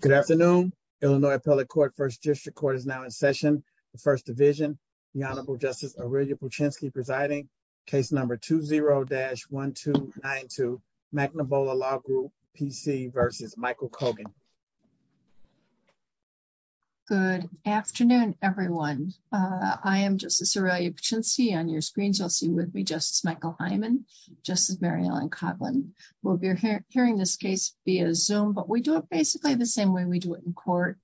Good afternoon. Illinois Appellate Court, 1st District Court is now in session. The First Division, the Honorable Justice Aurelia Puchinsky presiding. Case number 20-1292, Nanabola Law Group, P.C. v. Michael Cogan. Good afternoon, everyone. I am Justice Aurelia Puchinsky. On your screens, you'll see with me, Justice Michael Hyman, Justice Mary Ellen Coughlin. We'll be hearing this case via Zoom, but we do it basically the same way we do it in court.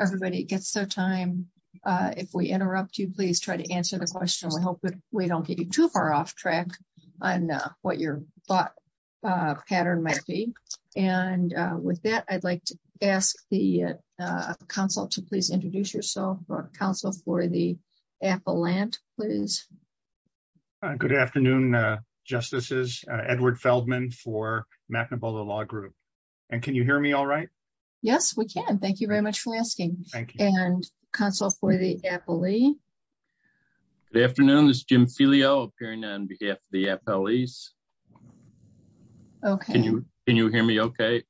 Everybody gets their time. If we interrupt you, please try to answer the question. We hope that we don't get you too far off track on what your thought pattern might be. And with that, I'd like to ask the counsel to please introduce yourself. Counsel for the appellant, please. Good afternoon, Justices. Edward Feldman for Yes, we can. Thank you very much for asking. And counsel for the appellee. Good afternoon. This is Jim Filio, appearing on behalf of the appellees. Okay. Can you hear me okay?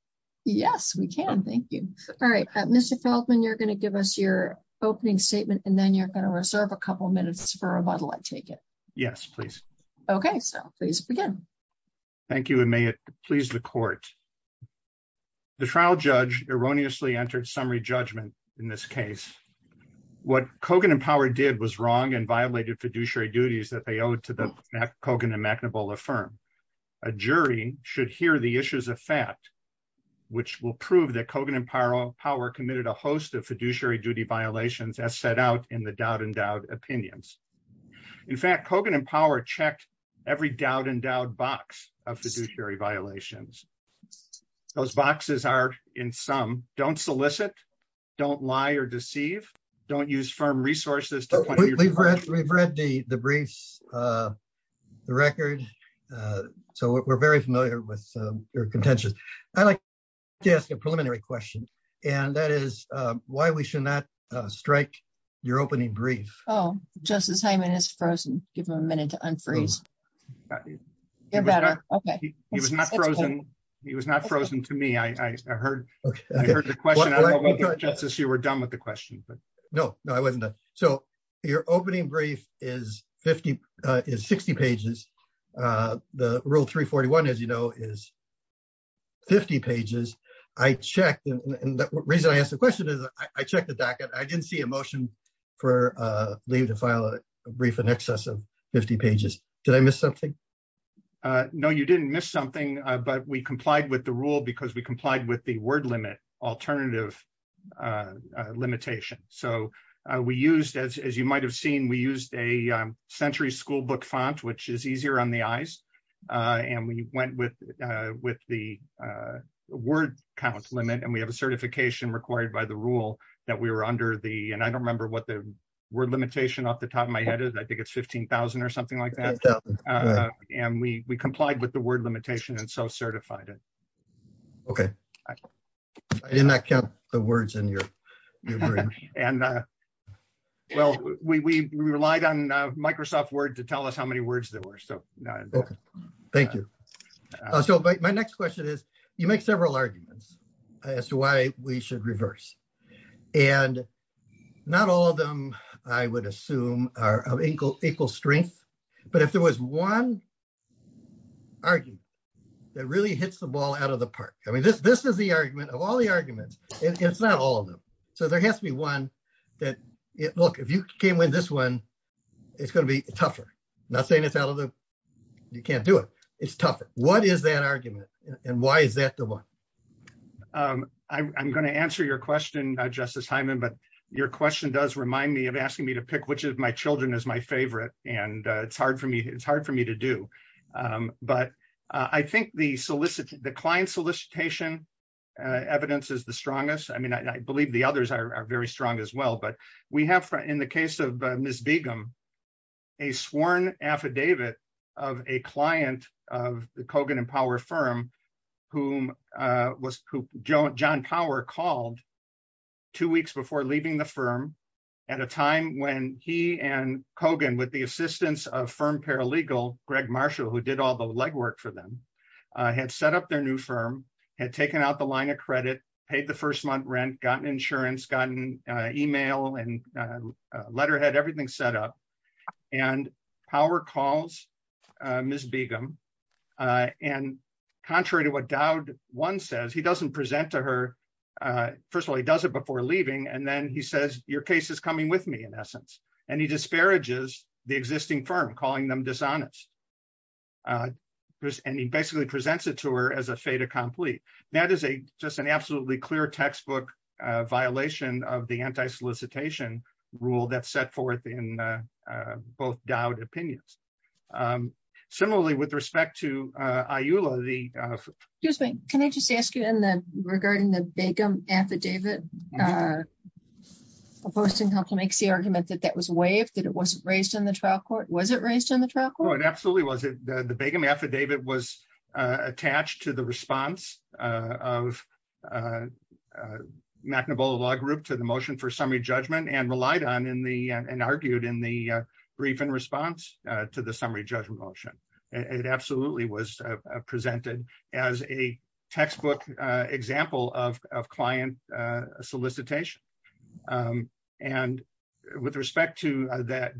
Yes, we can. Thank you. All right. Mr. Feldman, you're going to give us your opening statement, and then you're going to reserve a couple minutes for rebuttal. I take it. Yes, please. Okay. So please begin. Thank you. And may it please the trial judge erroneously entered summary judgment in this case. What Kogan and Power did was wrong and violated fiduciary duties that they owed to the Kogan and McNaball firm. A jury should hear the issues of fact, which will prove that Kogan and Power committed a host of fiduciary duty violations as set out in the doubt and doubt opinions. In fact, Kogan and Power checked every doubt and doubt box of fiduciary violations. Those boxes are in some don't solicit. Don't lie or deceive. Don't use firm resources. We've read the briefs, the record. So we're very familiar with your contentious. I'd like to ask a preliminary question, and that is why we should not strike your opening brief. Oh, Justice Hyman is frozen. Give him a minute to unfreeze. You're better. Okay. He was not frozen. He was not frozen to me. I heard the question. Justice, you were done with the question. No, no, I wasn't. So your opening brief is 60 pages. The rule 341, as you know, is 50 pages. I checked, and the reason I asked the question is I checked the docket. I didn't see a motion for leave to file a brief in excess of 50 pages. Did I miss something? No, you didn't miss something, but we complied with the rule because we complied with the word limit alternative limitation. So we used, as you might have seen, we used a century school book font, which is easier on the eyes. And we went with the word count limit, and we have a certification required by the rule that we were under the, and I don't remember what the word limitation off the top of my head is. I think it's 15,000 or something like that. And we complied with the word limitation and so certified it. Okay. I did not count the words in your brief. Well, we relied on Microsoft Word to tell us how many words there were. Okay. Thank you. So my next question is, you make several arguments as to why we should reverse. And not all of them, I would assume, are of equal strength, but if there was one argument that really hits the ball out of the park, I mean, this is the argument of all the arguments. It's not all of them. So there has to be one that, look, you can't win this one. It's going to be tougher. Not saying it's out of the, you can't do it. It's tougher. What is that argument? And why is that the one? I'm going to answer your question, Justice Hyman, but your question does remind me of asking me to pick which of my children is my favorite. And it's hard for me to do. But I think the client solicitation evidence is the strongest. I mean, I believe the others are very strong as well. But we have, in the case of Ms. Begum, a sworn affidavit of a client of the Kogan and Power firm whom John Power called two weeks before leaving the firm at a time when he and Kogan, with the assistance of firm paralegal Greg Marshall, who did all the legwork for them, had set up their new firm, had taken out the line of credit, paid the first month rent, gotten insurance, gotten email and letterhead, everything set up. And Power calls Ms. Begum. And contrary to what Dowd once says, he doesn't present to her. First of all, he does it before leaving. And then he says, your case is coming with me, in essence. And he disparages the existing firm, calling them dishonest. And he basically presents it to her as a fait accompli. That is just an absolutely clear textbook violation of the anti-solicitation rule that's set forth in both Dowd opinions. Similarly, with respect to IULA, the... Excuse me. Can I just ask you, regarding the Begum affidavit, Post and Compton makes the argument that that was waived, that it wasn't raised in the trial court. Was it raised in the trial court? Oh, it absolutely was. The Begum affidavit was raised in the trial court. It was presented to the motion for summary judgment and relied on and argued in the brief in response to the summary judgment motion. It absolutely was presented as a textbook example of client solicitation. And with respect to the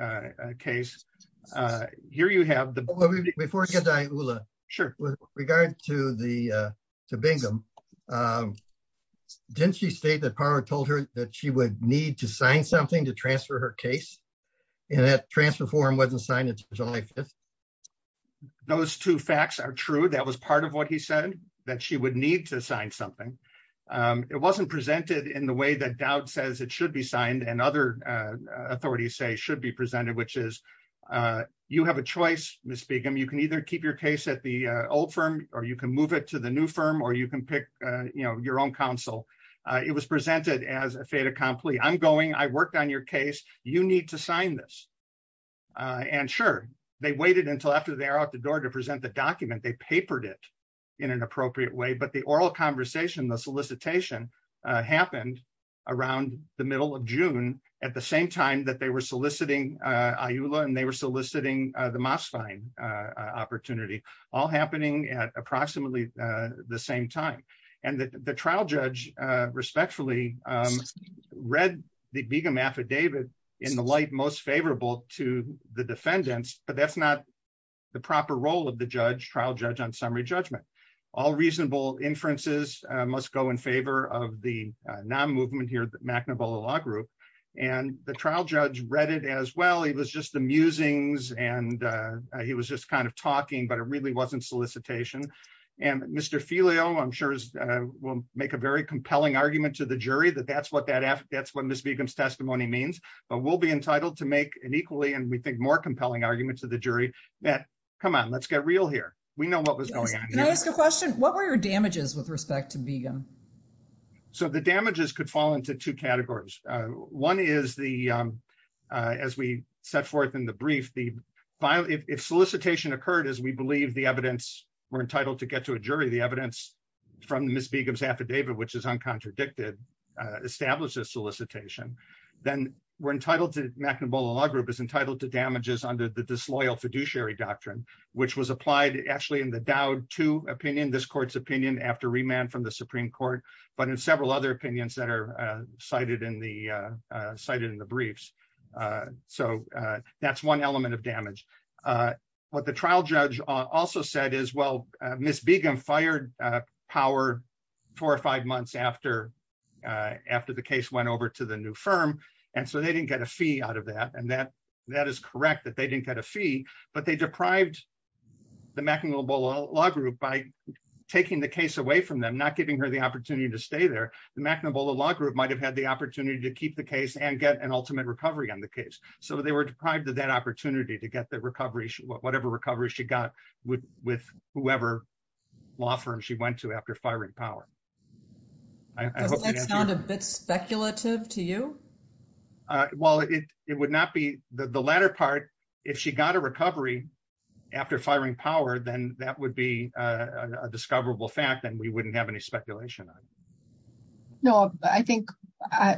IULA case, here you have the... Before we get to IULA, with regard to Begum, didn't she state that Parra told her that she would need to sign something to transfer her case? And that transfer form wasn't signed until July 5th? Those two facts are true. That was part of what he said, that she would need to sign something. It wasn't presented in the way that Dowd says it should be signed and other authorities say which is, you have a choice, Ms. Begum. You can either keep your case at the old firm, or you can move it to the new firm, or you can pick your own counsel. It was presented as a fait accompli. I'm going, I worked on your case. You need to sign this. And sure, they waited until after they're out the door to present the document. They papered it in an appropriate way. But the oral conversation, the solicitation happened around the middle of IULA, and they were soliciting the Mosfine opportunity, all happening at approximately the same time. And the trial judge respectfully read the Begum affidavit in the light most favorable to the defendants, but that's not the proper role of the trial judge on summary judgment. All reasonable inferences must go in favor of the non-movement here, the McNabola Law Group. And the trial judge read it as well. It was just the musings, and he was just kind of talking, but it really wasn't solicitation. And Mr. Filio, I'm sure, will make a very compelling argument to the jury that that's what Ms. Begum's testimony means. But we'll be entitled to make an equally and we think more compelling argument to the jury that, come on, let's get real here. We know what was going on here. Can I ask a question? What were your damages with respect to Begum? So the damages could fall into two categories. One is the, as we set forth in the brief, if solicitation occurred, as we believe the evidence, we're entitled to get to a jury, the evidence from Ms. Begum's affidavit, which is uncontradicted, establishes solicitation, then we're entitled to, McNabola Law Group is entitled to damages under the disloyal fiduciary doctrine, which was applied actually in the Dowd 2 opinion, this court's opinion after remand from the Supreme Court, but in several other opinions that are cited in the briefs. So that's one element of damage. What the trial judge also said is, well, Ms. Begum fired Power four or five months after the case went over to the new firm. And so they didn't get a fee out of that. And that is correct that they didn't get a fee, but they deprived the McNabola Law Group by taking the case away from them, not giving her the opportunity to stay there. The McNabola Law Group might've had the opportunity to keep the case and get an ultimate recovery on the case. So they were deprived of that opportunity to get the recovery, whatever recovery she got with whoever law firm she went to after firing Power. Does that sound a bit speculative to you? Well, it would not be the latter part. If she got a recovery after firing Power, then that would be a discoverable fact that we wouldn't have any speculation on. No, I think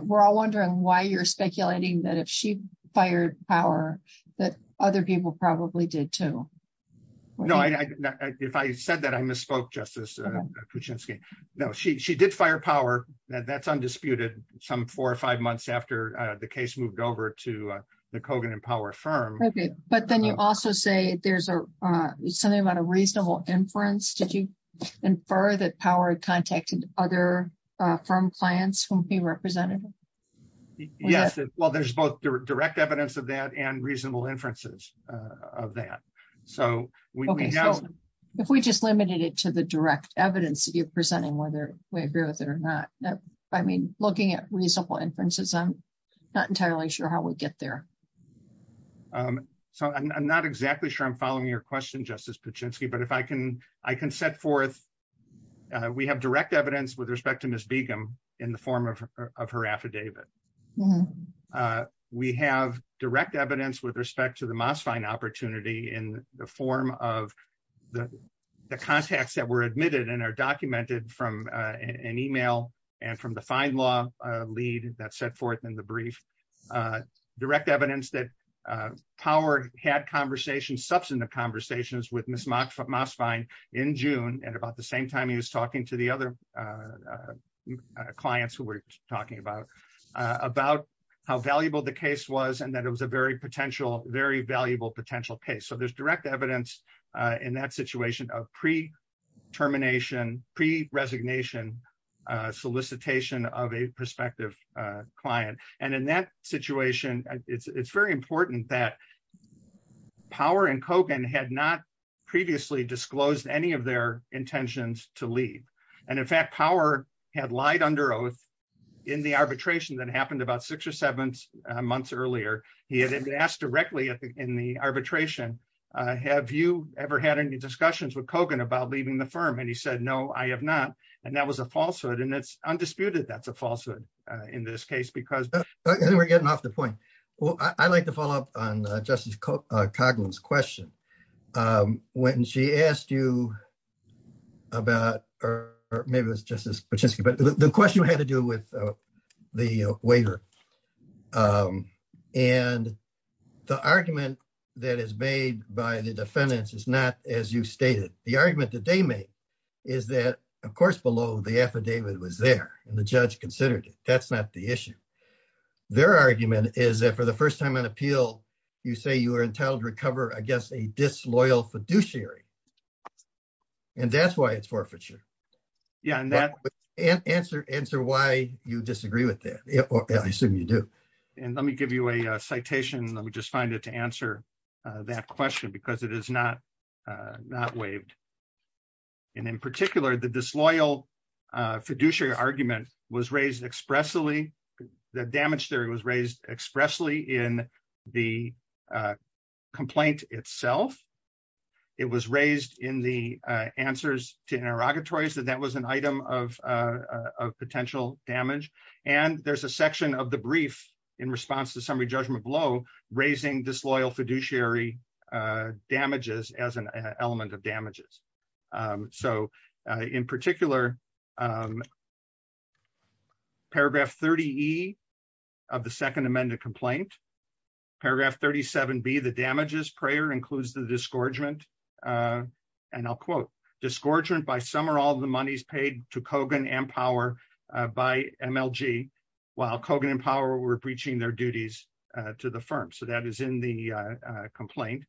we're all wondering why you're speculating that if she fired Power that other people probably did too. No, if I said that I misspoke Justice Kuczynski. No, she did fire Power. That's undisputed some four or five months after the case moved over to the Kogan and Power firm. Okay. But then you also say there's something about a reasonable inference. Did you infer that Power had contacted other firm clients whom he represented? Yes. Well, there's both direct evidence of that and reasonable inferences of that. So we- Okay. So if we just limited it to the direct evidence that you're presenting, whether we agree with it or not. I mean, looking at reasonable inferences, I'm not entirely sure how we get there. So I'm not exactly sure I'm following your question, Justice Kuczynski, but if I can set forth, we have direct evidence with respect to Ms. Begum in the form of her affidavit. We have direct evidence with respect to the Mosfine opportunity in the form of the contacts that were admitted and are documented from an email and from the fine law lead that set forth in the brief. Direct evidence that Power had substantive conversations with Ms. Mosfine in June at about the same time he was talking to the other clients who were talking about how valuable the case was and that it was a very valuable potential case. So there's direct evidence in that situation of pre-termination, pre-resignation solicitation of a prospective client. And in that situation, it's very important that Power and Kogan had not previously disclosed any of their intentions to leave. And in fact, Power had lied under oath in the arbitration that happened about six or seven months earlier. He had asked directly in the arbitration, have you ever had any discussions with Kogan about leaving the firm? And he said, no, I have not. And that was a falsehood. And it's undisputed, that's a falsehood in this case, because- I think we're getting off the point. Well, I'd like to follow up on Justice Kogan's question. When she asked you about, or maybe it was Justice Kuczynski, but the question had to do with the waiver. And the argument that is made by the defendants is not as you stated. The argument that they made is that, of course, below the affidavit was there and the judge considered it. That's not the issue. Their argument is that for the first time on appeal, you say you are entitled to recover, I guess, a disloyal fiduciary. And that's why it's forfeiture. Yeah. And answer why you disagree with that. I assume you do. And let me give you a citation. Let me just find it to answer that question because it is not waived. And in particular, the disloyal fiduciary argument was raised expressly, the damage theory was raised expressly in the complaint itself. It was raised in the answers to interrogatories that that was an item of potential damage. And there's a section of the brief in response to summary judgment blow, raising disloyal fiduciary damages as an element of damages. So, in particular, paragraph 30E of the second amended complaint, paragraph 37B, the damages prayer includes the disgorgement. And I'll quote, disgorgement by some or all the monies paid to Kogan and Power by MLG, while Kogan and Power were breaching their duties to the firm. So, that is in the complaint.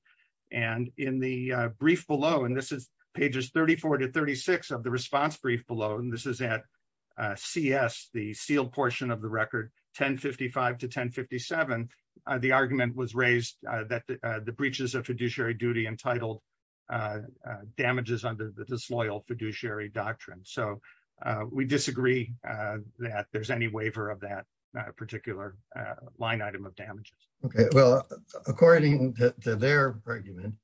And in the brief below, and this is pages 34 to 36 of the response brief below, and this is at CS, the sealed portion of the record 1055 to 1057, the argument was raised that the breaches of fiduciary duty entitled damages under the disloyal fiduciary doctrine. So, we disagree that there's any waiver of that particular line item of damages. Okay. Well, according to their argument,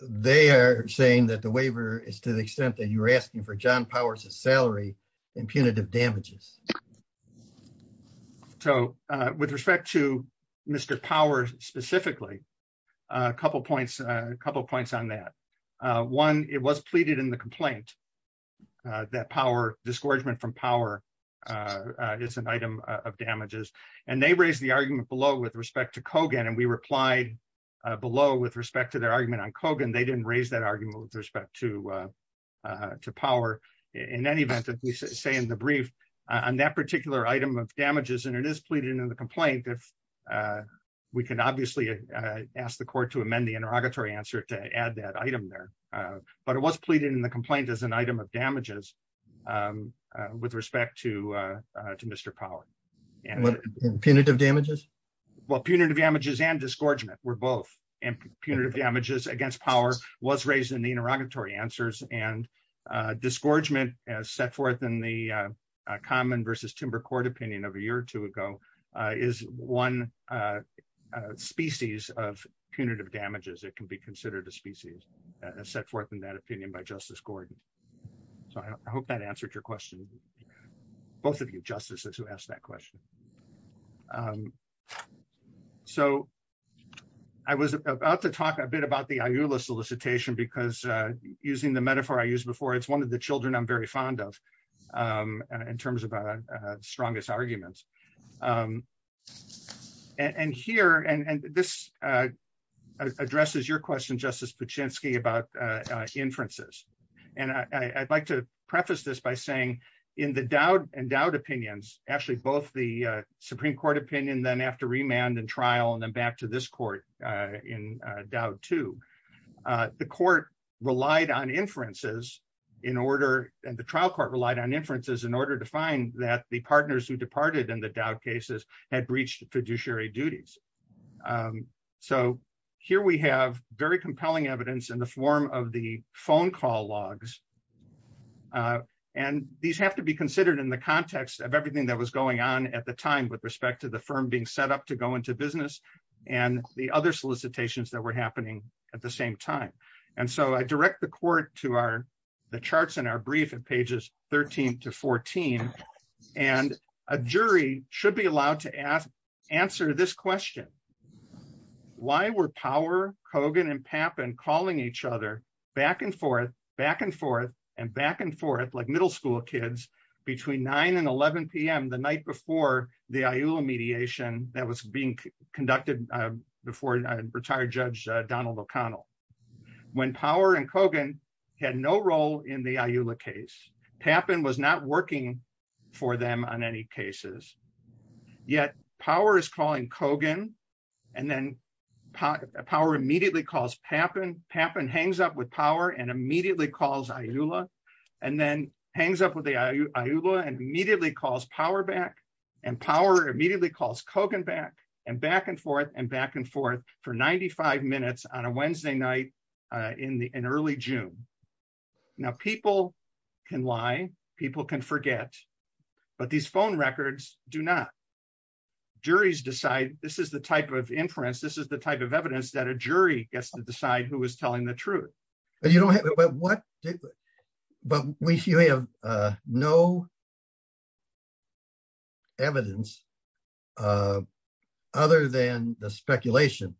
they are saying that the waiver is to the extent that you were asking for John Power's salary and punitive damages. So, with respect to Mr. Power specifically, a couple points on that. One, it was pleaded in the complaint that Power, disgorgement from Power, is an item of damages. And they raised the argument below with respect to Kogan. And we replied below with respect to their argument on Kogan, they didn't raise that argument with respect to Power. In any event, as we say in the brief, on that particular item of damages, and it is pleaded in the complaint, if we can obviously ask the court to amend the interrogatory answer to add that item there. But it was pleaded in the complaint as an item of damages with respect to Mr. Power. Punitive damages? Well, punitive damages and disgorgement were both. And punitive damages against Power was raised in the interrogatory answers. And disgorgement as set forth in the Common versus Timber Court opinion of a year or two ago, is one species of punitive damages, it can be considered a species set forth in that opinion by Justice Gordon. So I hope that answered your question. Both of you justices who asked that question. So I was about to talk a bit about the IULA solicitation, because using the metaphor I used before, it's one of the children I'm very fond of, in terms of strongest arguments. And here, and this addresses your question, Justice Paczynski, about inferences. And I'd like to preface this by saying, in the Dowd and Dowd opinions, actually, both the Supreme Court opinion, then after remand and trial, and then back to this order to find that the partners who departed in the Dowd cases had breached fiduciary duties. So here we have very compelling evidence in the form of the phone call logs. And these have to be considered in the context of everything that was going on at the time with respect to the firm being set up to go into business, and the other solicitations that were happening at the same time. And so I direct the court to the charts in our brief at pages 13 to 14. And a jury should be allowed to ask, answer this question. Why were Power, Kogan, and Papin calling each other back and forth, back and forth, and back and forth, like middle school kids, between 9 and 11pm the night before the IULA mediation that was being conducted before retired Judge Donald O'Connell? When Power and Kogan had no role in the IULA case, Papin was not working for them on any cases. Yet Power is calling Kogan, and then Power immediately calls Papin, Papin hangs up with Power and immediately calls IULA, and then hangs up with the IULA and immediately calls Power back, and Power immediately calls Kogan back, and back and forth, and back and forth for 95 minutes on a Wednesday night in early June. Now people can lie, people can forget, but these phone records do not. Juries decide this is the type of inference, this is the type of evidence that a jury gets to decide who is telling the truth. But you don't have, but what, but we have no evidence other than the speculation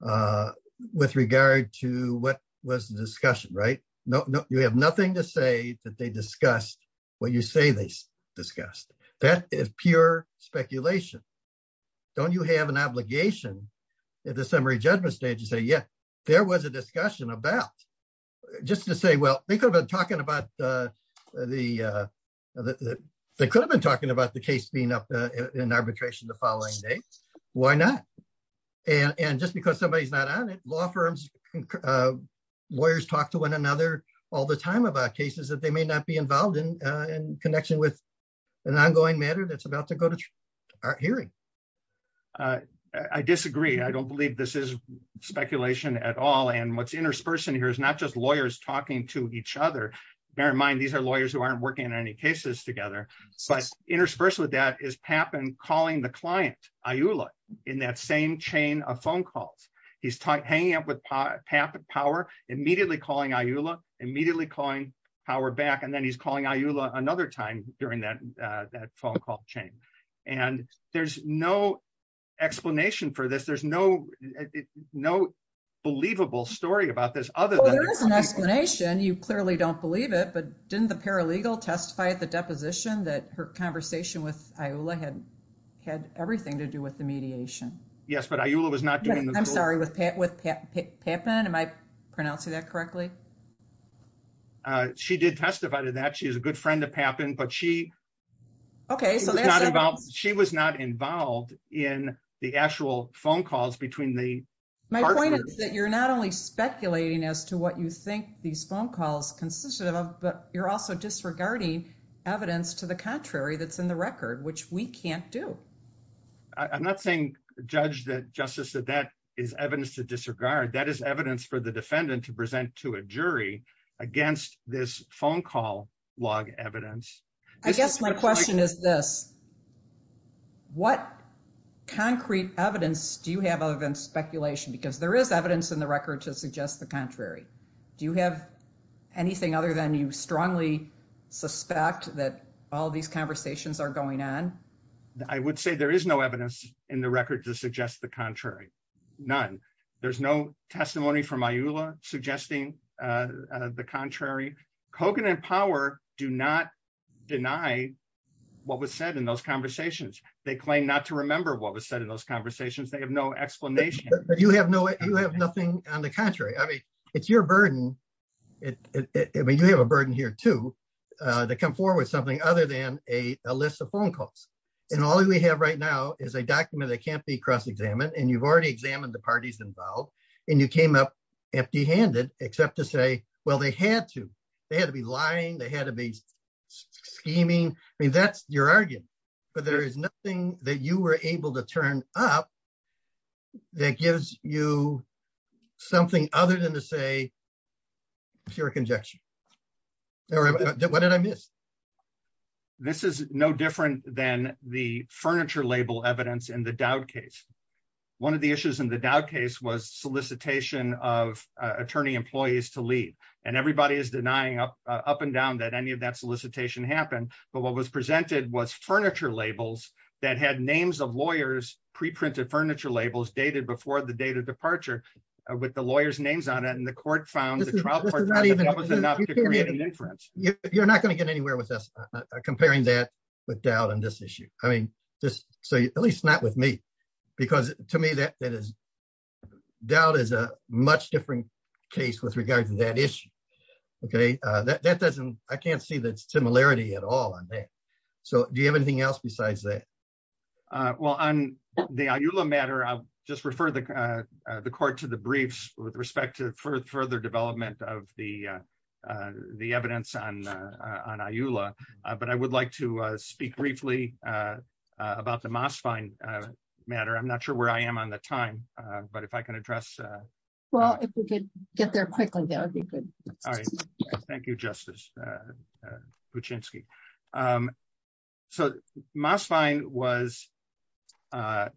with regard to what was the discussion, right? No, you have nothing to say that they discussed what you say they discussed. That is pure speculation. Don't you have an obligation at the summary judgment stage to say, yeah, there was a discussion about, just to say, well, they could have been talking about the case being up in arbitration the and just because somebody's not on it, law firms, lawyers talk to one another all the time about cases that they may not be involved in, in connection with an ongoing matter that's about to go to our hearing. I disagree. I don't believe this is speculation at all. And what's interspersed in here is not just lawyers talking to each other. Bear in mind, these are lawyers who aren't working on any cases together. But interspersed with that is Papin calling the client, IULA, in that same chain of phone calls. He's hanging up with Papin power, immediately calling IULA, immediately calling power back. And then he's calling IULA another time during that phone call chain. And there's no explanation for this. There's no believable story about this other than- Well, there is an explanation. You clearly don't believe it, but didn't the paralegal testify at the deposition that her conversation with IULA had everything to do with the mediation? Yes, but IULA was not doing- I'm sorry, with Papin? Am I pronouncing that correctly? She did testify to that. She is a good friend of Papin, but she- Okay, so that's- She was not involved in the actual phone calls between the partners. My point is that you're not only speculating as to what you think these phone calls consisted of, but you're also disregarding evidence to the contrary that's in the record, which we can't do. I'm not saying, Judge, that- Justice, that that is evidence to disregard. That is evidence for the defendant to present to a jury against this phone call log evidence. I guess my question is this. What concrete evidence do you have other than speculation? Because there is evidence in the record to suggest the contrary. Do you have anything other than you strongly suspect that all these conversations are going on? I would say there is no evidence in the record to suggest the contrary, none. There's no testimony from IULA suggesting the contrary. Kogan and Power do not deny what was said in those conversations. They claim not to remember what was said in those conversations. They have no explanation. But you have no- You have nothing on the contrary. I mean, it's your burden. I mean, you have a burden here, too, to come forward with something other than a list of phone calls. And all we have right now is a document that can't be cross-examined. And you've already examined the parties involved. And you came up empty-handed, except to say, well, they had to. They had to be lying. They had to be scheming. I mean, that's your argument. But there is nothing that you were able to turn up that gives you something other than to say pure conjecture. What did I miss? This is no different than the furniture label evidence in the Dowd case. One of the issues in the Dowd case was solicitation of attorney employees to leave. And everybody is denying up and down that any of that solicitation happened. But what was presented was furniture labels that had names of lawyers, pre-printed furniture labels, dated before the date of departure, with the lawyers' names on it. And the court found the trial court- This is not even- That was enough to create an inference. You're not going to get anywhere with us comparing that with Dowd on this issue. I mean, at least not with me. Because to me, Dowd is a much different case with regard to that issue. Okay? That doesn't- I can't see similarity at all on that. So do you have anything else besides that? Well, on the IULA matter, I'll just refer the court to the briefs with respect to further development of the evidence on IULA. But I would like to speak briefly about the Mosfine matter. I'm not sure where I am on the time. But if I can address- Well, if we could get there quickly, that would be good. All right. Thank you, Justice Kuczynski. So Mosfine was a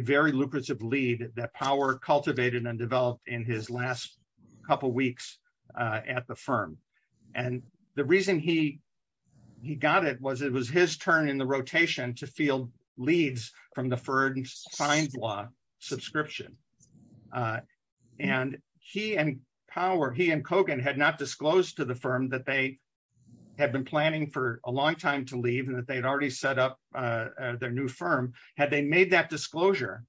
very lucrative lead that Power cultivated and developed in his last couple weeks at the firm. And the reason he got it was it was his turn in the rotation to field leads from the Ferdinand Feinblau subscription. And he and Power, he and Kogan had not disclosed to the firm that they had been planning for a long time to leave and that they'd already set up their new firm. Had they made that disclosure,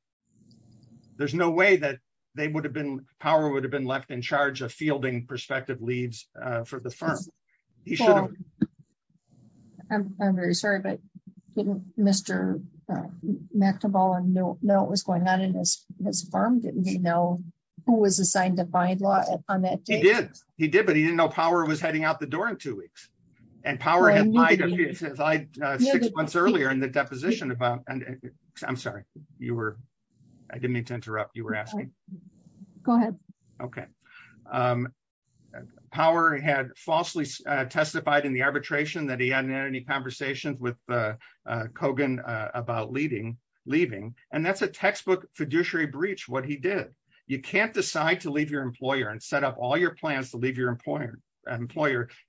there's no way that they would have been- Power would have been left in charge of fielding prospective leads for the firm. He should have. I'm very sorry, but didn't Mr. McNabal know what was going on in his firm? Didn't he know who was assigned to Feinblau on that date? He did. He did, but he didn't know Power was heading out the door in two weeks. And Power had lied six months earlier in the deposition about- I'm sorry. I didn't mean to interrupt. You were asking? Go ahead. Okay. Power had falsely testified in the arbitration that he hadn't had any conversations with Kogan about leaving. And that's a textbook fiduciary breach, what he did. You can't decide to leave your employer and set up all your plans to leave your employer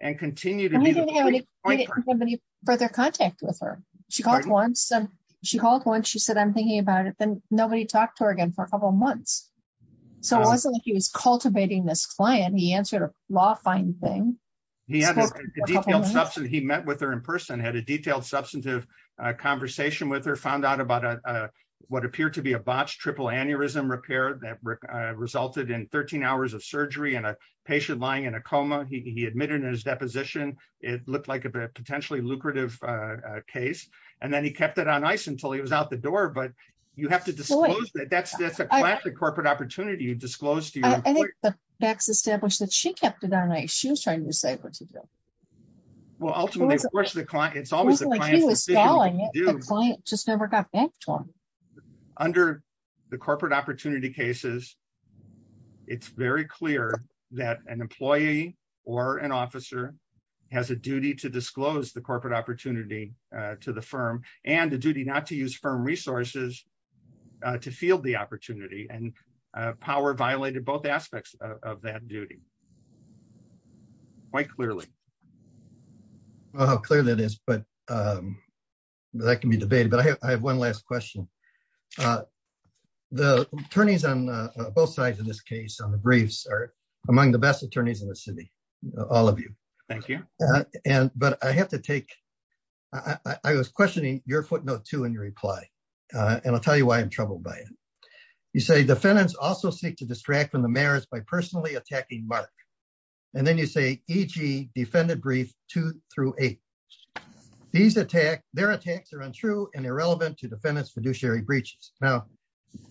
and continue to- And we didn't have any further contact with her. She called once. She called once. She said, I'm thinking about it. Then nobody talked to her again for a couple months. So it wasn't like he was cultivating this client. He answered a law-finding thing. He had a detailed substantive- He met with her in person, had a detailed substantive conversation with her, found out about what appeared to be a botched triple aneurysm repair that resulted in 13 hours of surgery and a patient lying in a coma. He admitted in his deposition it looked like a potentially lucrative case. And then he kept it on ice until he was out the door. But you have to disclose that. That's a corporate opportunity. You disclose to your- I think the facts established that she kept it on ice. She was trying to decide what to do. Well, ultimately, of course, the client- It's always the client's decision what to do. The client just never got back to him. Under the corporate opportunity cases, it's very clear that an employee or an officer has a duty to disclose the corporate opportunity to the firm and the duty not to use firm resources to field the opportunity. And power violated both aspects of that duty, quite clearly. How clear that is. But that can be debated. But I have one last question. The attorneys on both sides of this case, on the briefs, are among the best attorneys in the city, all of you. Thank you. But I have to take- I was questioning your footnote, too, in your reply. And I'll tell you why I'm troubled by it. You say defendants also seek to distract from the mayors by personally attacking Mark. And then you say, e.g., defendant brief two through eight. Their attacks are untrue and irrelevant to defendants' fiduciary breaches. Now,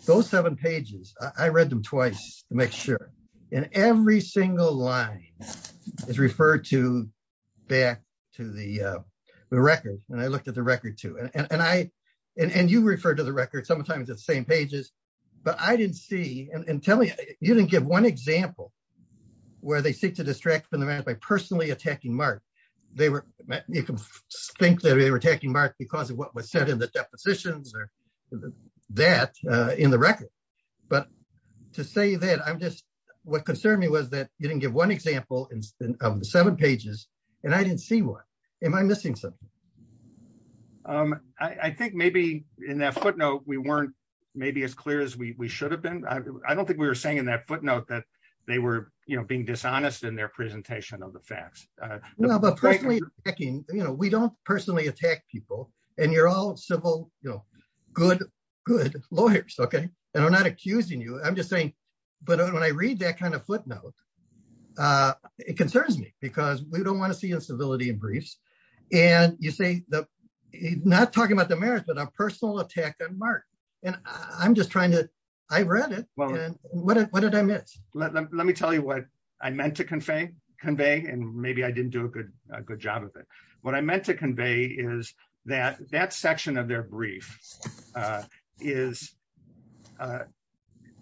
those seven pages, I read them twice to make sure. And every single line is referred to back to the record. And I looked at the record, too. And you refer to the record sometimes at the same pages. But I didn't see- and tell me, you didn't give one example where they seek to distract from the mayor by personally attacking Mark. You can think that they were attacking Mark because of what was said in the depositions or that in the record. But to say that, I'm just- what concerned me was that you didn't give one example of the seven pages, and I didn't see one. Am I missing something? I think maybe in that footnote, we weren't maybe as clear as we should have been. I don't think we were saying in that footnote that they were being dishonest in their presentation of the facts. No, but personally attacking, you know, we don't personally attack people. And you're all civil, you know, good, good lawyers, okay? And I'm not accusing you. I'm just saying, but when I read that kind of footnote, it concerns me because we don't want to see instability in briefs. And you say, not talking about the mayor, but a personal attack on Mark. And I'm just trying to- I read it. What did I miss? Let me tell you what I meant to convey, and maybe I didn't do a good job of it. What I meant to convey is that that section of their brief is-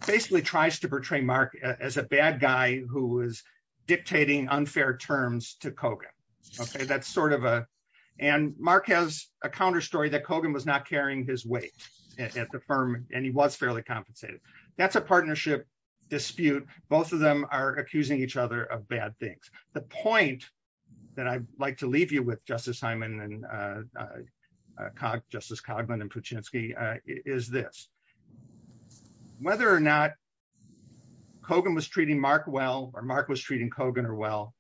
basically tries to portray Mark as a bad guy who is dictating unfair terms to Kogan, okay? That's sort of a- and Mark has a counter story that Kogan was not carrying his weight at the firm, and he was fairly compensated. That's a partnership dispute. Both of them are accusing each other of bad things. The point that I'd like to leave you with, Justice Hyman and Justice Cogman and Puchinsky, is this. Whether or not Kogan was treating Mark well, or Mark was treating Kogan well,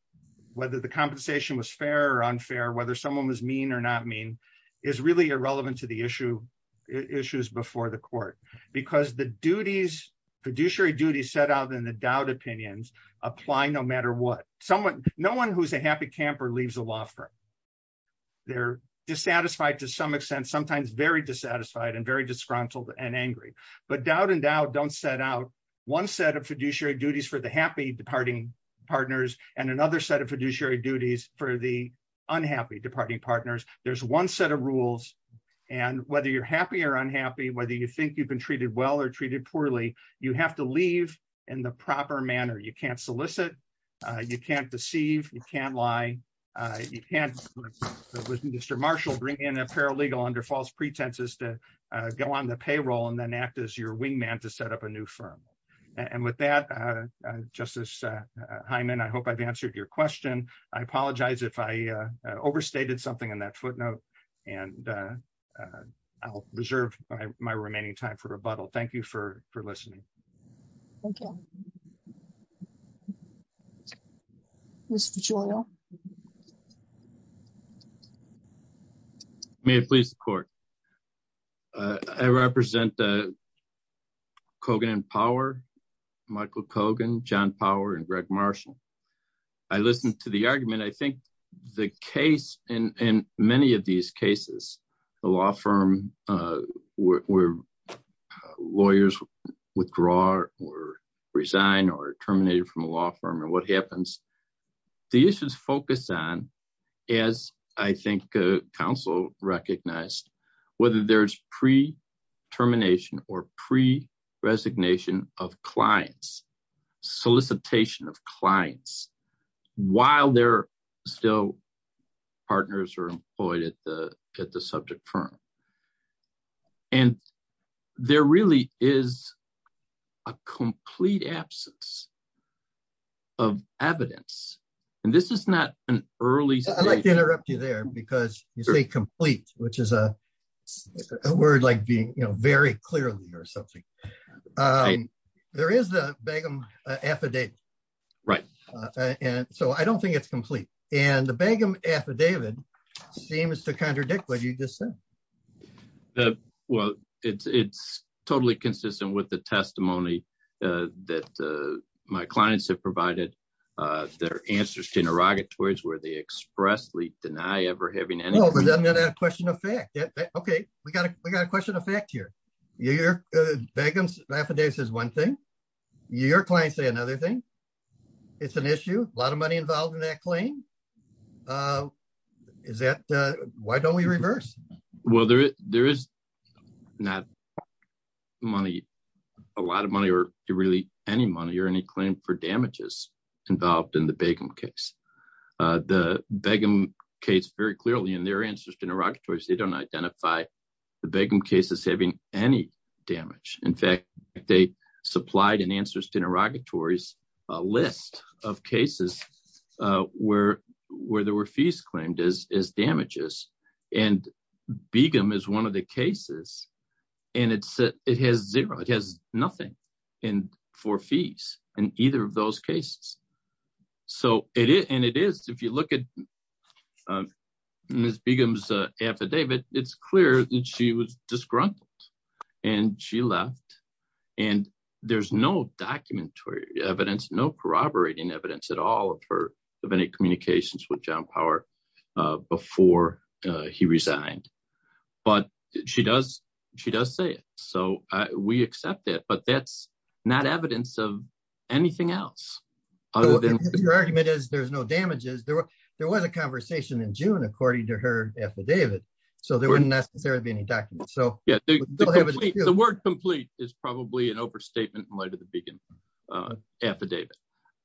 whether the compensation was fair or unfair, whether someone was mean or not mean, is really irrelevant to the issues before the court. Because the duties- fiduciary duties set out in the Dowd opinions apply no matter what. No one who's a happy camper leaves the law firm. They're dissatisfied to some extent, sometimes very dissatisfied and very disgruntled and angry. But Dowd and Dowd don't set out one set of fiduciary duties for the happy departing partners, and another set of fiduciary duties for the unhappy departing partners. There's one set of rules, and whether you're happy or unhappy, whether you think you've been treated well or treated poorly, you have to leave in the proper manner. You can't solicit. You can't deceive. You can't lie. You can't, like Mr. Marshall, bring in a paralegal under false pretenses to go on the payroll and then act as your wingman to set up a new firm. And with that, Justice Hyman, I hope I've answered your question. I apologize if I missed that footnote, and I'll reserve my remaining time for rebuttal. Thank you for listening. Thank you. Mr. Gioia. May it please the court. I represent Kogan and Power, Michael Kogan, John Power, and Greg Marshall. I listened to the argument. I think the case in many of these cases, the law firm where lawyers withdraw or resign or are terminated from a law firm and what happens, the issues focus on, as I think counsel recognized, whether there's pre-termination or pre-resignation of clients, solicitation of clients while they're still partners or employed at the subject firm. And there really is a complete absence of evidence. And this is not an early... I'd like to interrupt you there because you say complete, which is a word like being, very clearly or something. There is the Begum affidavit. Right. So I don't think it's complete. And the Begum affidavit seems to contradict what you just said. Well, it's totally consistent with the testimony that my clients have provided, their answers to interrogatories where they expressly deny ever having any... I'm going to add a question of fact. Okay. We got a question of fact here. Begum's affidavit says one thing. Your clients say another thing. It's an issue, a lot of money involved in that claim. Why don't we reverse? Well, there is not a lot of money or really any money or any claim for damages involved in the Begum case. The Begum case very clearly in their answers to interrogatories, they don't identify the Begum case as having any damage. In fact, they supplied in answers to interrogatories a list of cases where there were fees claimed as damages. And Begum is one of the cases and it has zero, it has nothing for fees in either of those cases. And it is, if you look at Ms. Begum's affidavit, it's clear that she was disgruntled and she left. And there's no documentary evidence, no corroborating evidence at all of any communications with John Power before he resigned, but she does say it. So we accept it, but that's not evidence of anything else. Your argument is there's no damages. There was a conversation in June, according to her affidavit. So there wouldn't necessarily be any documents. The word complete is probably an overstatement in light of the Begum affidavit,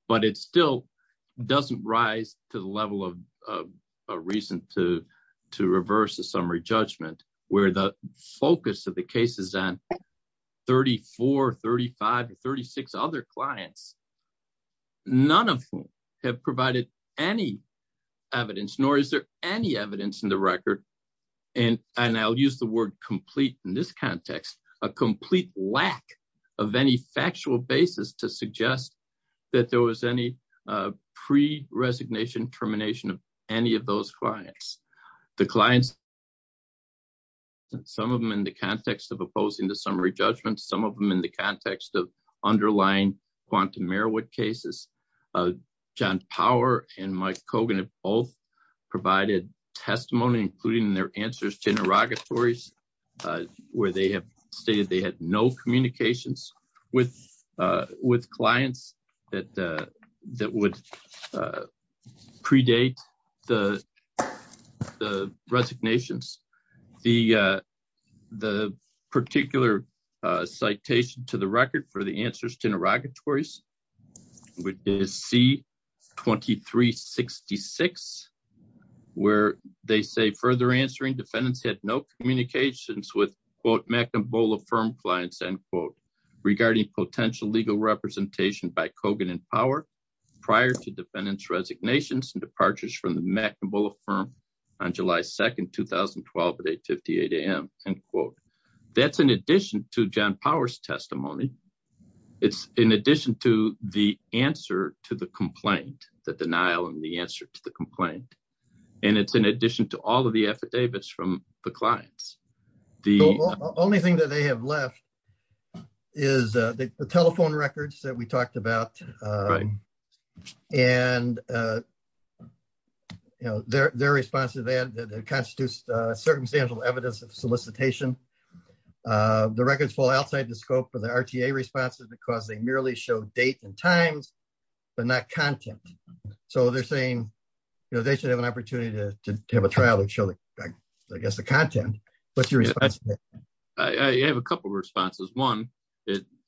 but it still doesn't rise to the level of a reason to reverse the summary judgment where the focus of the case is on 34, 35, or 36 other clients, none of whom have provided any evidence, nor is there any evidence in the record. And I'll use the word complete in this context, a complete lack of any factual basis to suggest that there was any pre-resignation, termination of any of those clients. The clients, some of them in the context of opposing the summary judgment, some of them in the context of underlying quantum Merowith cases, John Power and Mike Kogan have provided testimony, including their answers to interrogatories, where they have stated they had no communications with, uh, with clients that, uh, that would, uh, predate the, the resignations, the, uh, the particular, uh, citation to the record for the answers to interrogatories, which is C-2366, where they say further answering defendants had no communications with quote, McNabola firm clients, end quote, regarding potential legal representation by Kogan and Power prior to defendants resignations and departures from the McNabola firm on July 2nd, 2012 at 8 58 AM. End quote. That's in addition to John Power's testimony. It's in addition to the answer to the complaint, the denial and the answer to the complaint. And it's in addition to all of the affidavits from the clients, the only thing that they have left is, uh, the telephone records that we talked about. Um, and, uh, you know, they're, their response to that constitutes, uh, circumstantial evidence of solicitation. Uh, the records fall outside the scope of the RTA responses because they merely show date and times, but not content. So they're saying, you know, they should have an opportunity to have a trial and show the, I guess the content. What's your response to that? I have a couple of responses. One,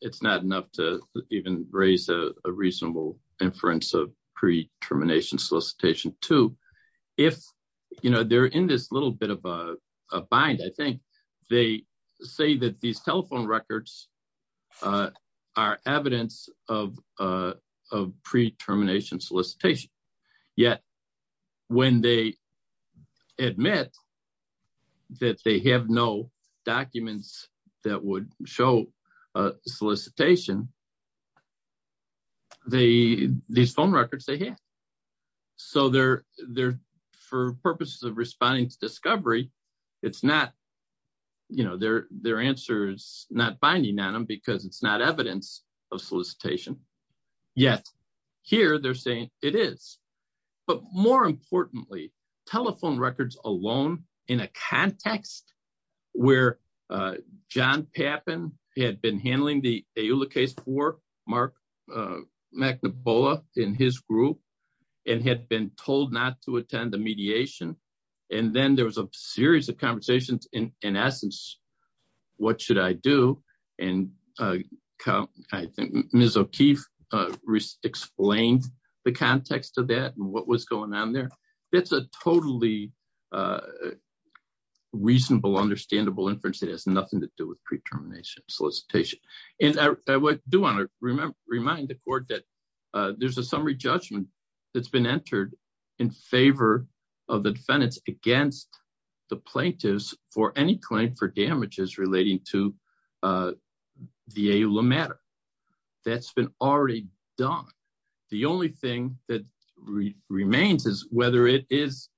it's not enough to even raise a reasonable inference of pre-termination solicitation. Two, if, you know, they're in this little bit of a bind, I think they say that these telephone records, uh, are evidence of, uh, of pre-termination solicitation. Yet when they admit that they have no documents that would show a solicitation, they, these phone records they have. So they're, they're, for purposes of responding to discovery, it's not, you know, their, their answer is not binding on them because it's not evidence of solicitation. Yet here they're saying it is, but more importantly, telephone records alone in a context where, uh, John Pappin had been handling the EULA case for Mark, uh, McNabola in his group and had been told not to attend the mediation. And then there was a series of conversations in, in essence, what should I do? And, uh, uh, I think Ms. O'Keefe, uh, explained the context of that and what was going on there. That's a totally, uh, reasonable, understandable inference. It has nothing to do with pre-termination solicitation. And I do want to remember, remind the court that, uh, there's a summary judgment that's been entered in favor of the defendants against the plaintiffs for any claim for damages relating to, uh, the EULA matter that's been already done. The only thing that remains is whether it is,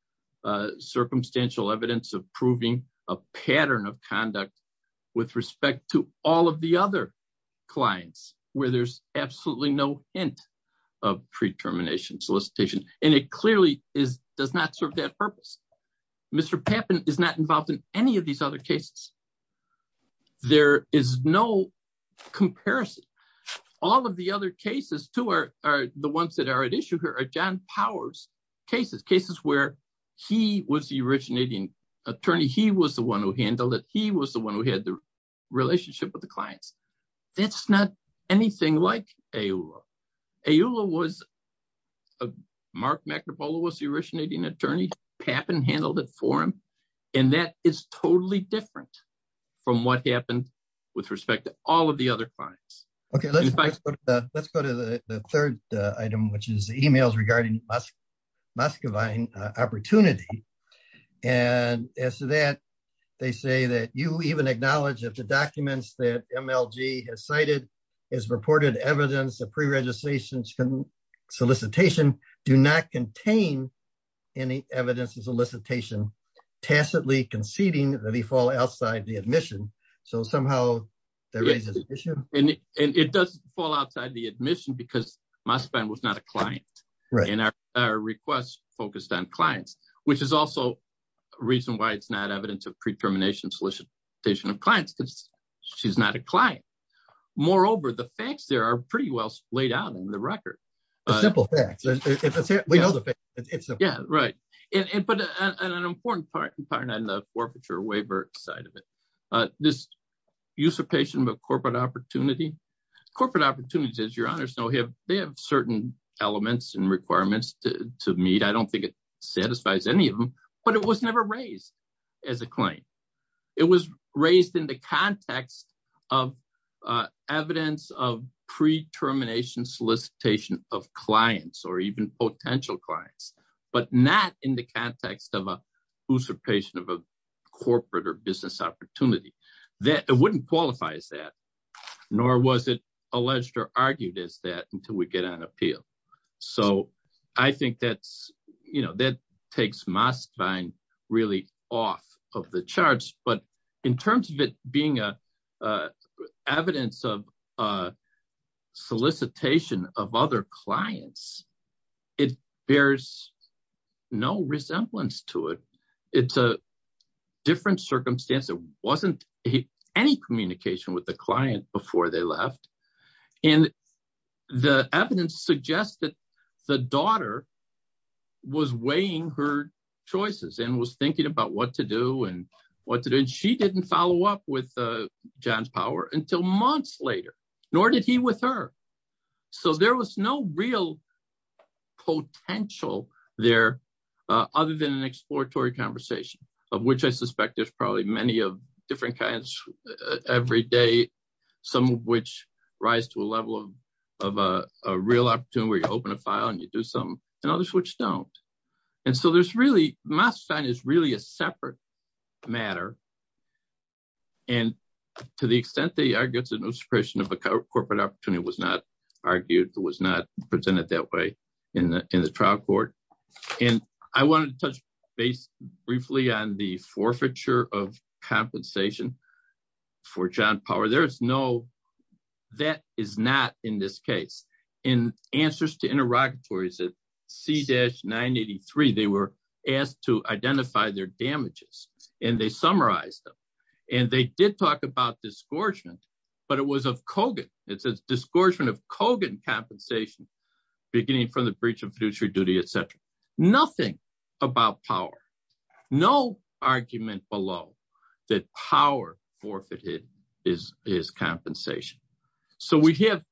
uh, circumstantial evidence of proving a pattern of conduct with respect to all of the other clients where there's absolutely no hint of pre-termination solicitation. And it clearly is, does not serve that purpose. Mr. Pappin is not involved in any of these other cases. There is no comparison. All of the other cases too are, are the ones that are at issue here are John Powers cases, cases where he was the originating attorney. He was the one who handled it. He was the one who had the relationship with the clients. That's not anything like EULA. EULA was, uh, Mark McNapola was the originating attorney. Pappin handled it for him. And that is totally different from what happened with respect to all of the other clients. Okay. Let's go to the third item, which is the emails regarding Muscovine opportunity. And as to that, they say that you even acknowledge that the documents that MLG has cited is reported evidence of preregistration solicitation do not contain any evidence of tacitly conceding that he fall outside the admission. So somehow that raises an issue. And it does fall outside the admission because Muscovine was not a client and our requests focused on clients, which is also a reason why it's not evidence of pre-termination solicitation of clients because she's not a client. Moreover, the facts there are pretty well laid out in the an important part and part on the forfeiture waiver side of it, uh, this usurpation of a corporate opportunity, corporate opportunities, your honor. So he have, they have certain elements and requirements to meet. I don't think it satisfies any of them, but it was never raised as a claim. It was raised in the context of, uh, evidence of pre-termination solicitation of clients or even potential clients, but not in the context of a usurpation of a corporate or business opportunity that it wouldn't qualify as that, nor was it alleged or argued as that until we get on appeal. So I think that's, you know, that takes Muscovine really off of the clients. It bears no resemblance to it. It's a different circumstance. It wasn't any communication with the client before they left. And the evidence suggests that the daughter was weighing her choices and was thinking about what to do and what to do. And she didn't follow up with, uh, until months later, nor did he with her. So there was no real potential there, uh, other than an exploratory conversation of which I suspect there's probably many of different kinds every day, some of which rise to a level of, of, uh, a real opportunity where you open a file and you do something and others, which don't. And so there's really, Muscovine is really a separate matter. And to the extent they argue it's an usurpation of a corporate opportunity was not argued. It was not presented that way in the, in the trial court. And I wanted to touch base briefly on the forfeiture of compensation for John power. There is no, that is not in this case and answers to and they did talk about discouragement, but it was of Kogan. It's a discouragement of Kogan compensation beginning from the breach of fiduciary duty, et cetera, nothing about power, no argument below that power forfeited is, is compensation. So we have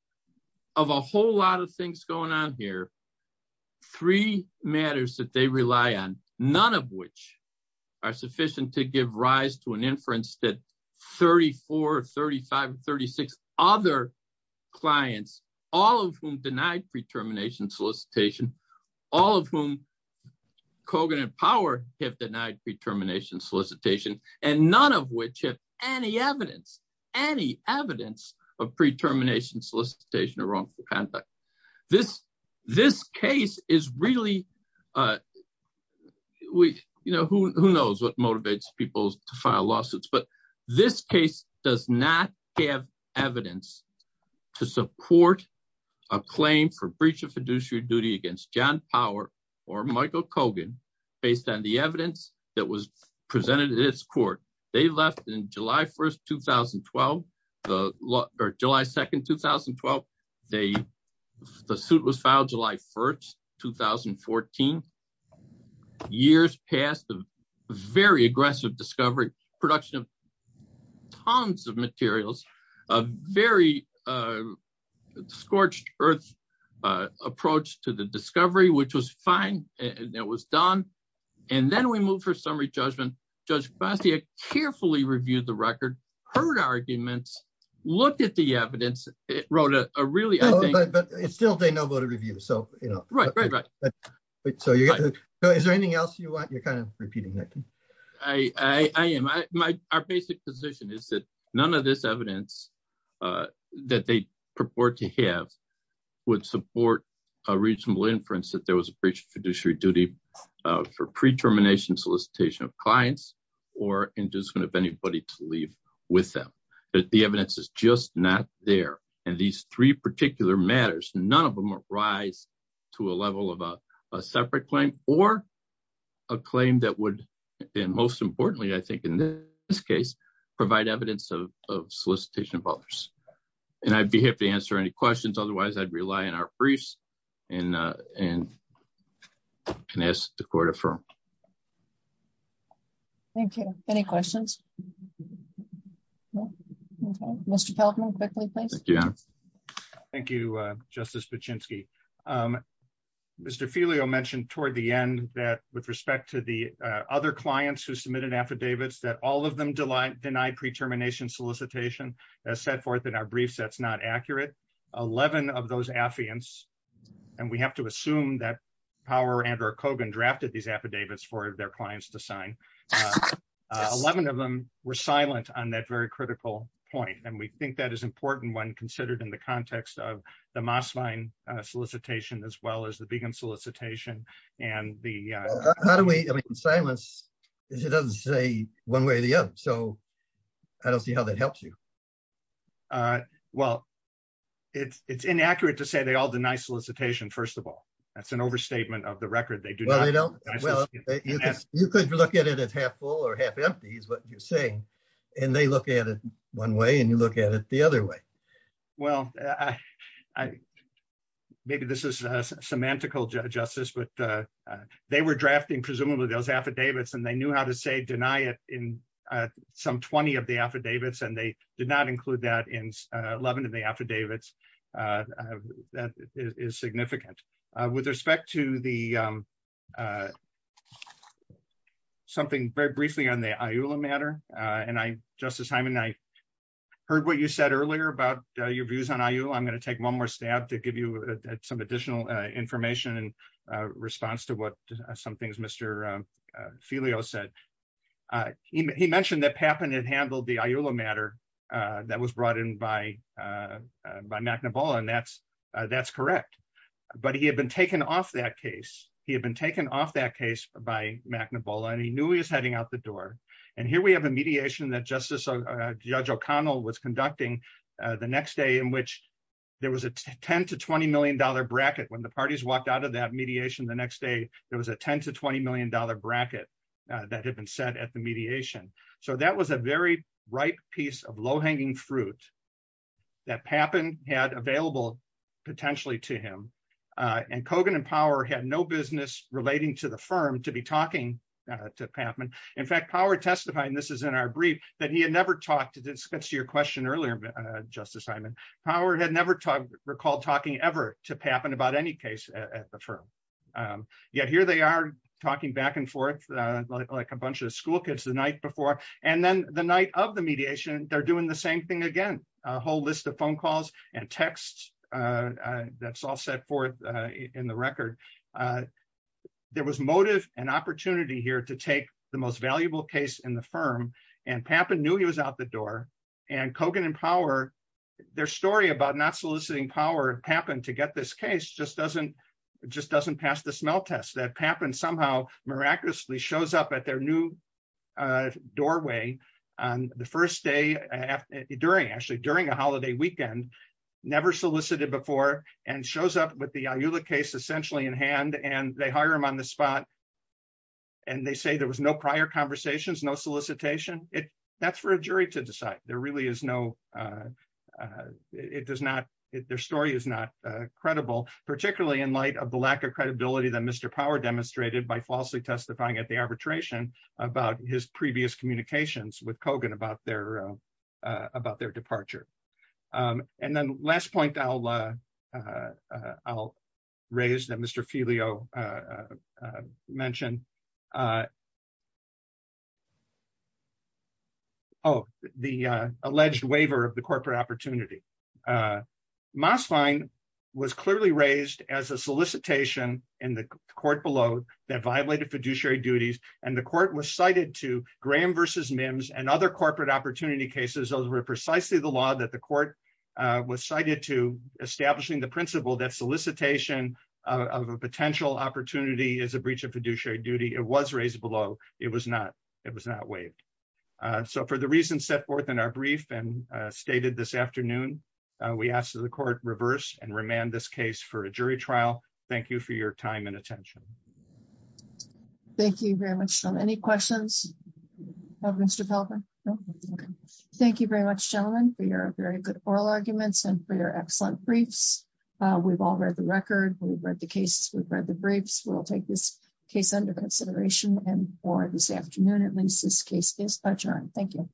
of a whole lot of things going on here. Three matters that they rely on, none of which are sufficient to give rise to an inference that 34 or 35 or 36 other clients, all of whom denied pre-termination solicitation, all of whom Kogan and power have denied pre-termination solicitation. And none of which have any evidence, any evidence of pre-termination solicitation or wrongful conduct. This, this case is really we, you know, who, who knows what motivates people to file lawsuits, but this case does not have evidence to support a claim for breach of fiduciary duty against John power or Michael Kogan based on the evidence that was presented at its court. They left in July 1st, 2012, the law or July 2nd, 2012. They, the suit was filed July 1st, 2014 years past the very aggressive discovery production of tons of materials, a very scorched earth approach to the discovery, which was fine. And that was done. And then we moved for summary judgment, judge Bastia carefully reviewed the record, heard arguments, looked at the evidence. It wrote a really, it's still a no vote of review. So, you know, right, right, right. So is there anything else you want? You're kind of repeating that. I, I, I am. I, my, our basic position is that none of this evidence that they purport to have would support a reasonable inference that there was a breach of fiduciary duty for pre-termination solicitation of clients or inducement of anybody to leave with them, that the evidence is just not there. And these three particular matters, none of them rise to a level of a separate claim or a claim that would, and most importantly, I think in this case, provide evidence of solicitation of others. And I'd be happy to answer any questions. Otherwise I'd rely on our briefs and, and can ask the court to affirm. Thank you. Any questions? Mr. Feldman, quickly, please. Thank you, Justice Pachinski. Mr. Filio mentioned toward the end that with respect to the other clients who submitted affidavits, that all of them denied pre-termination solicitation, as set forth in our briefs, that's not accurate. 11 of those affiants, and we have to assume that Power and or Kogan drafted these affidavits for their clients to sign. 11 of them were silent on that very critical point. And we think that is important when considered in the context of the Mosvine solicitation, as well as the Kagan solicitation. And the, how do we, I mean, silence is, it doesn't say one way or the other. So I don't see how that helps you. Well, it's, it's inaccurate to say they all deny solicitation. First of all, that's an overstatement of the record. They do. You could look at it as half full or half empty is what you're saying. And they look at it one way and you look at it the other way. Well, I, maybe this is a semantical justice, but they were drafting presumably those affidavits and they knew how to say deny it in some 20 of the affidavits. And they did not include that in 11 of the affidavits. That is significant with respect to the something very briefly on the matter. And I, justice Hyman, I heard what you said earlier about your views on IU. I'm going to take one more stab to give you some additional information and a response to what some things, Mr. Filio said, he mentioned that Papan had handled the matter that was brought in by, by McNaball. And that's, that's correct. But he had been taken off that case. He had been taken off that case by McNaball and he knew he was heading out the door. And here we have a mediation that justice judge O'Connell was conducting the next day in which there was a 10 to $20 million bracket. When the parties walked out of that mediation the next day, there was a 10 to $20 million bracket that had been set at the mediation. So that was a very ripe piece of low-hanging fruit that Papan had available potentially to him. And Kogan and Power had no business relating to the firm to be talking to Papan. In fact, Power testifying, this is in our brief, that he had never talked to, this gets to your question earlier, justice Hyman, Power had never talked, recalled talking ever to Papan about any case at the firm. Yet here they are talking back and forth like a bunch of school kids the night before. And then the night of the they're doing the same thing again, a whole list of phone calls and texts that's all set forth in the record. There was motive and opportunity here to take the most valuable case in the firm and Papan knew he was out the door. And Kogan and Power, their story about not soliciting Power Papan to get this case just doesn't pass the smell test that Papan somehow miraculously shows up at their new doorway on the first day, actually during a holiday weekend, never solicited before and shows up with the Ayula case essentially in hand and they hire him on the spot. And they say there was no prior conversations, no solicitation. That's for a jury to decide. Their story is not credible, particularly in light of the lack of credibility that Mr. Power demonstrated by falsely testifying at the arbitration about his previous communications with Kogan about their departure. And then last point I'll raise that Mr. Filio mentioned. Oh, the alleged waiver of the corporate opportunity. Mosline was clearly raised as a solicitation in the court below that violated fiduciary duties. And the court was cited to Graham versus Mims and other corporate opportunity cases. Those were precisely the law that the court was cited to establishing the principle that solicitation of a potential opportunity is a breach of fiduciary duty. It was raised below. It was not waived. So for the reasons set forth in our brief and stated this afternoon, we ask that the court reverse and remand this case for your time and attention. Thank you very much. So any questions of Mr. Pelper? Thank you very much, gentlemen, for your very good oral arguments and for your excellent briefs. We've all read the record. We've read the case. We've read the briefs. We'll take this case under consideration. And for this afternoon, at least this case is adjourned. Thank you.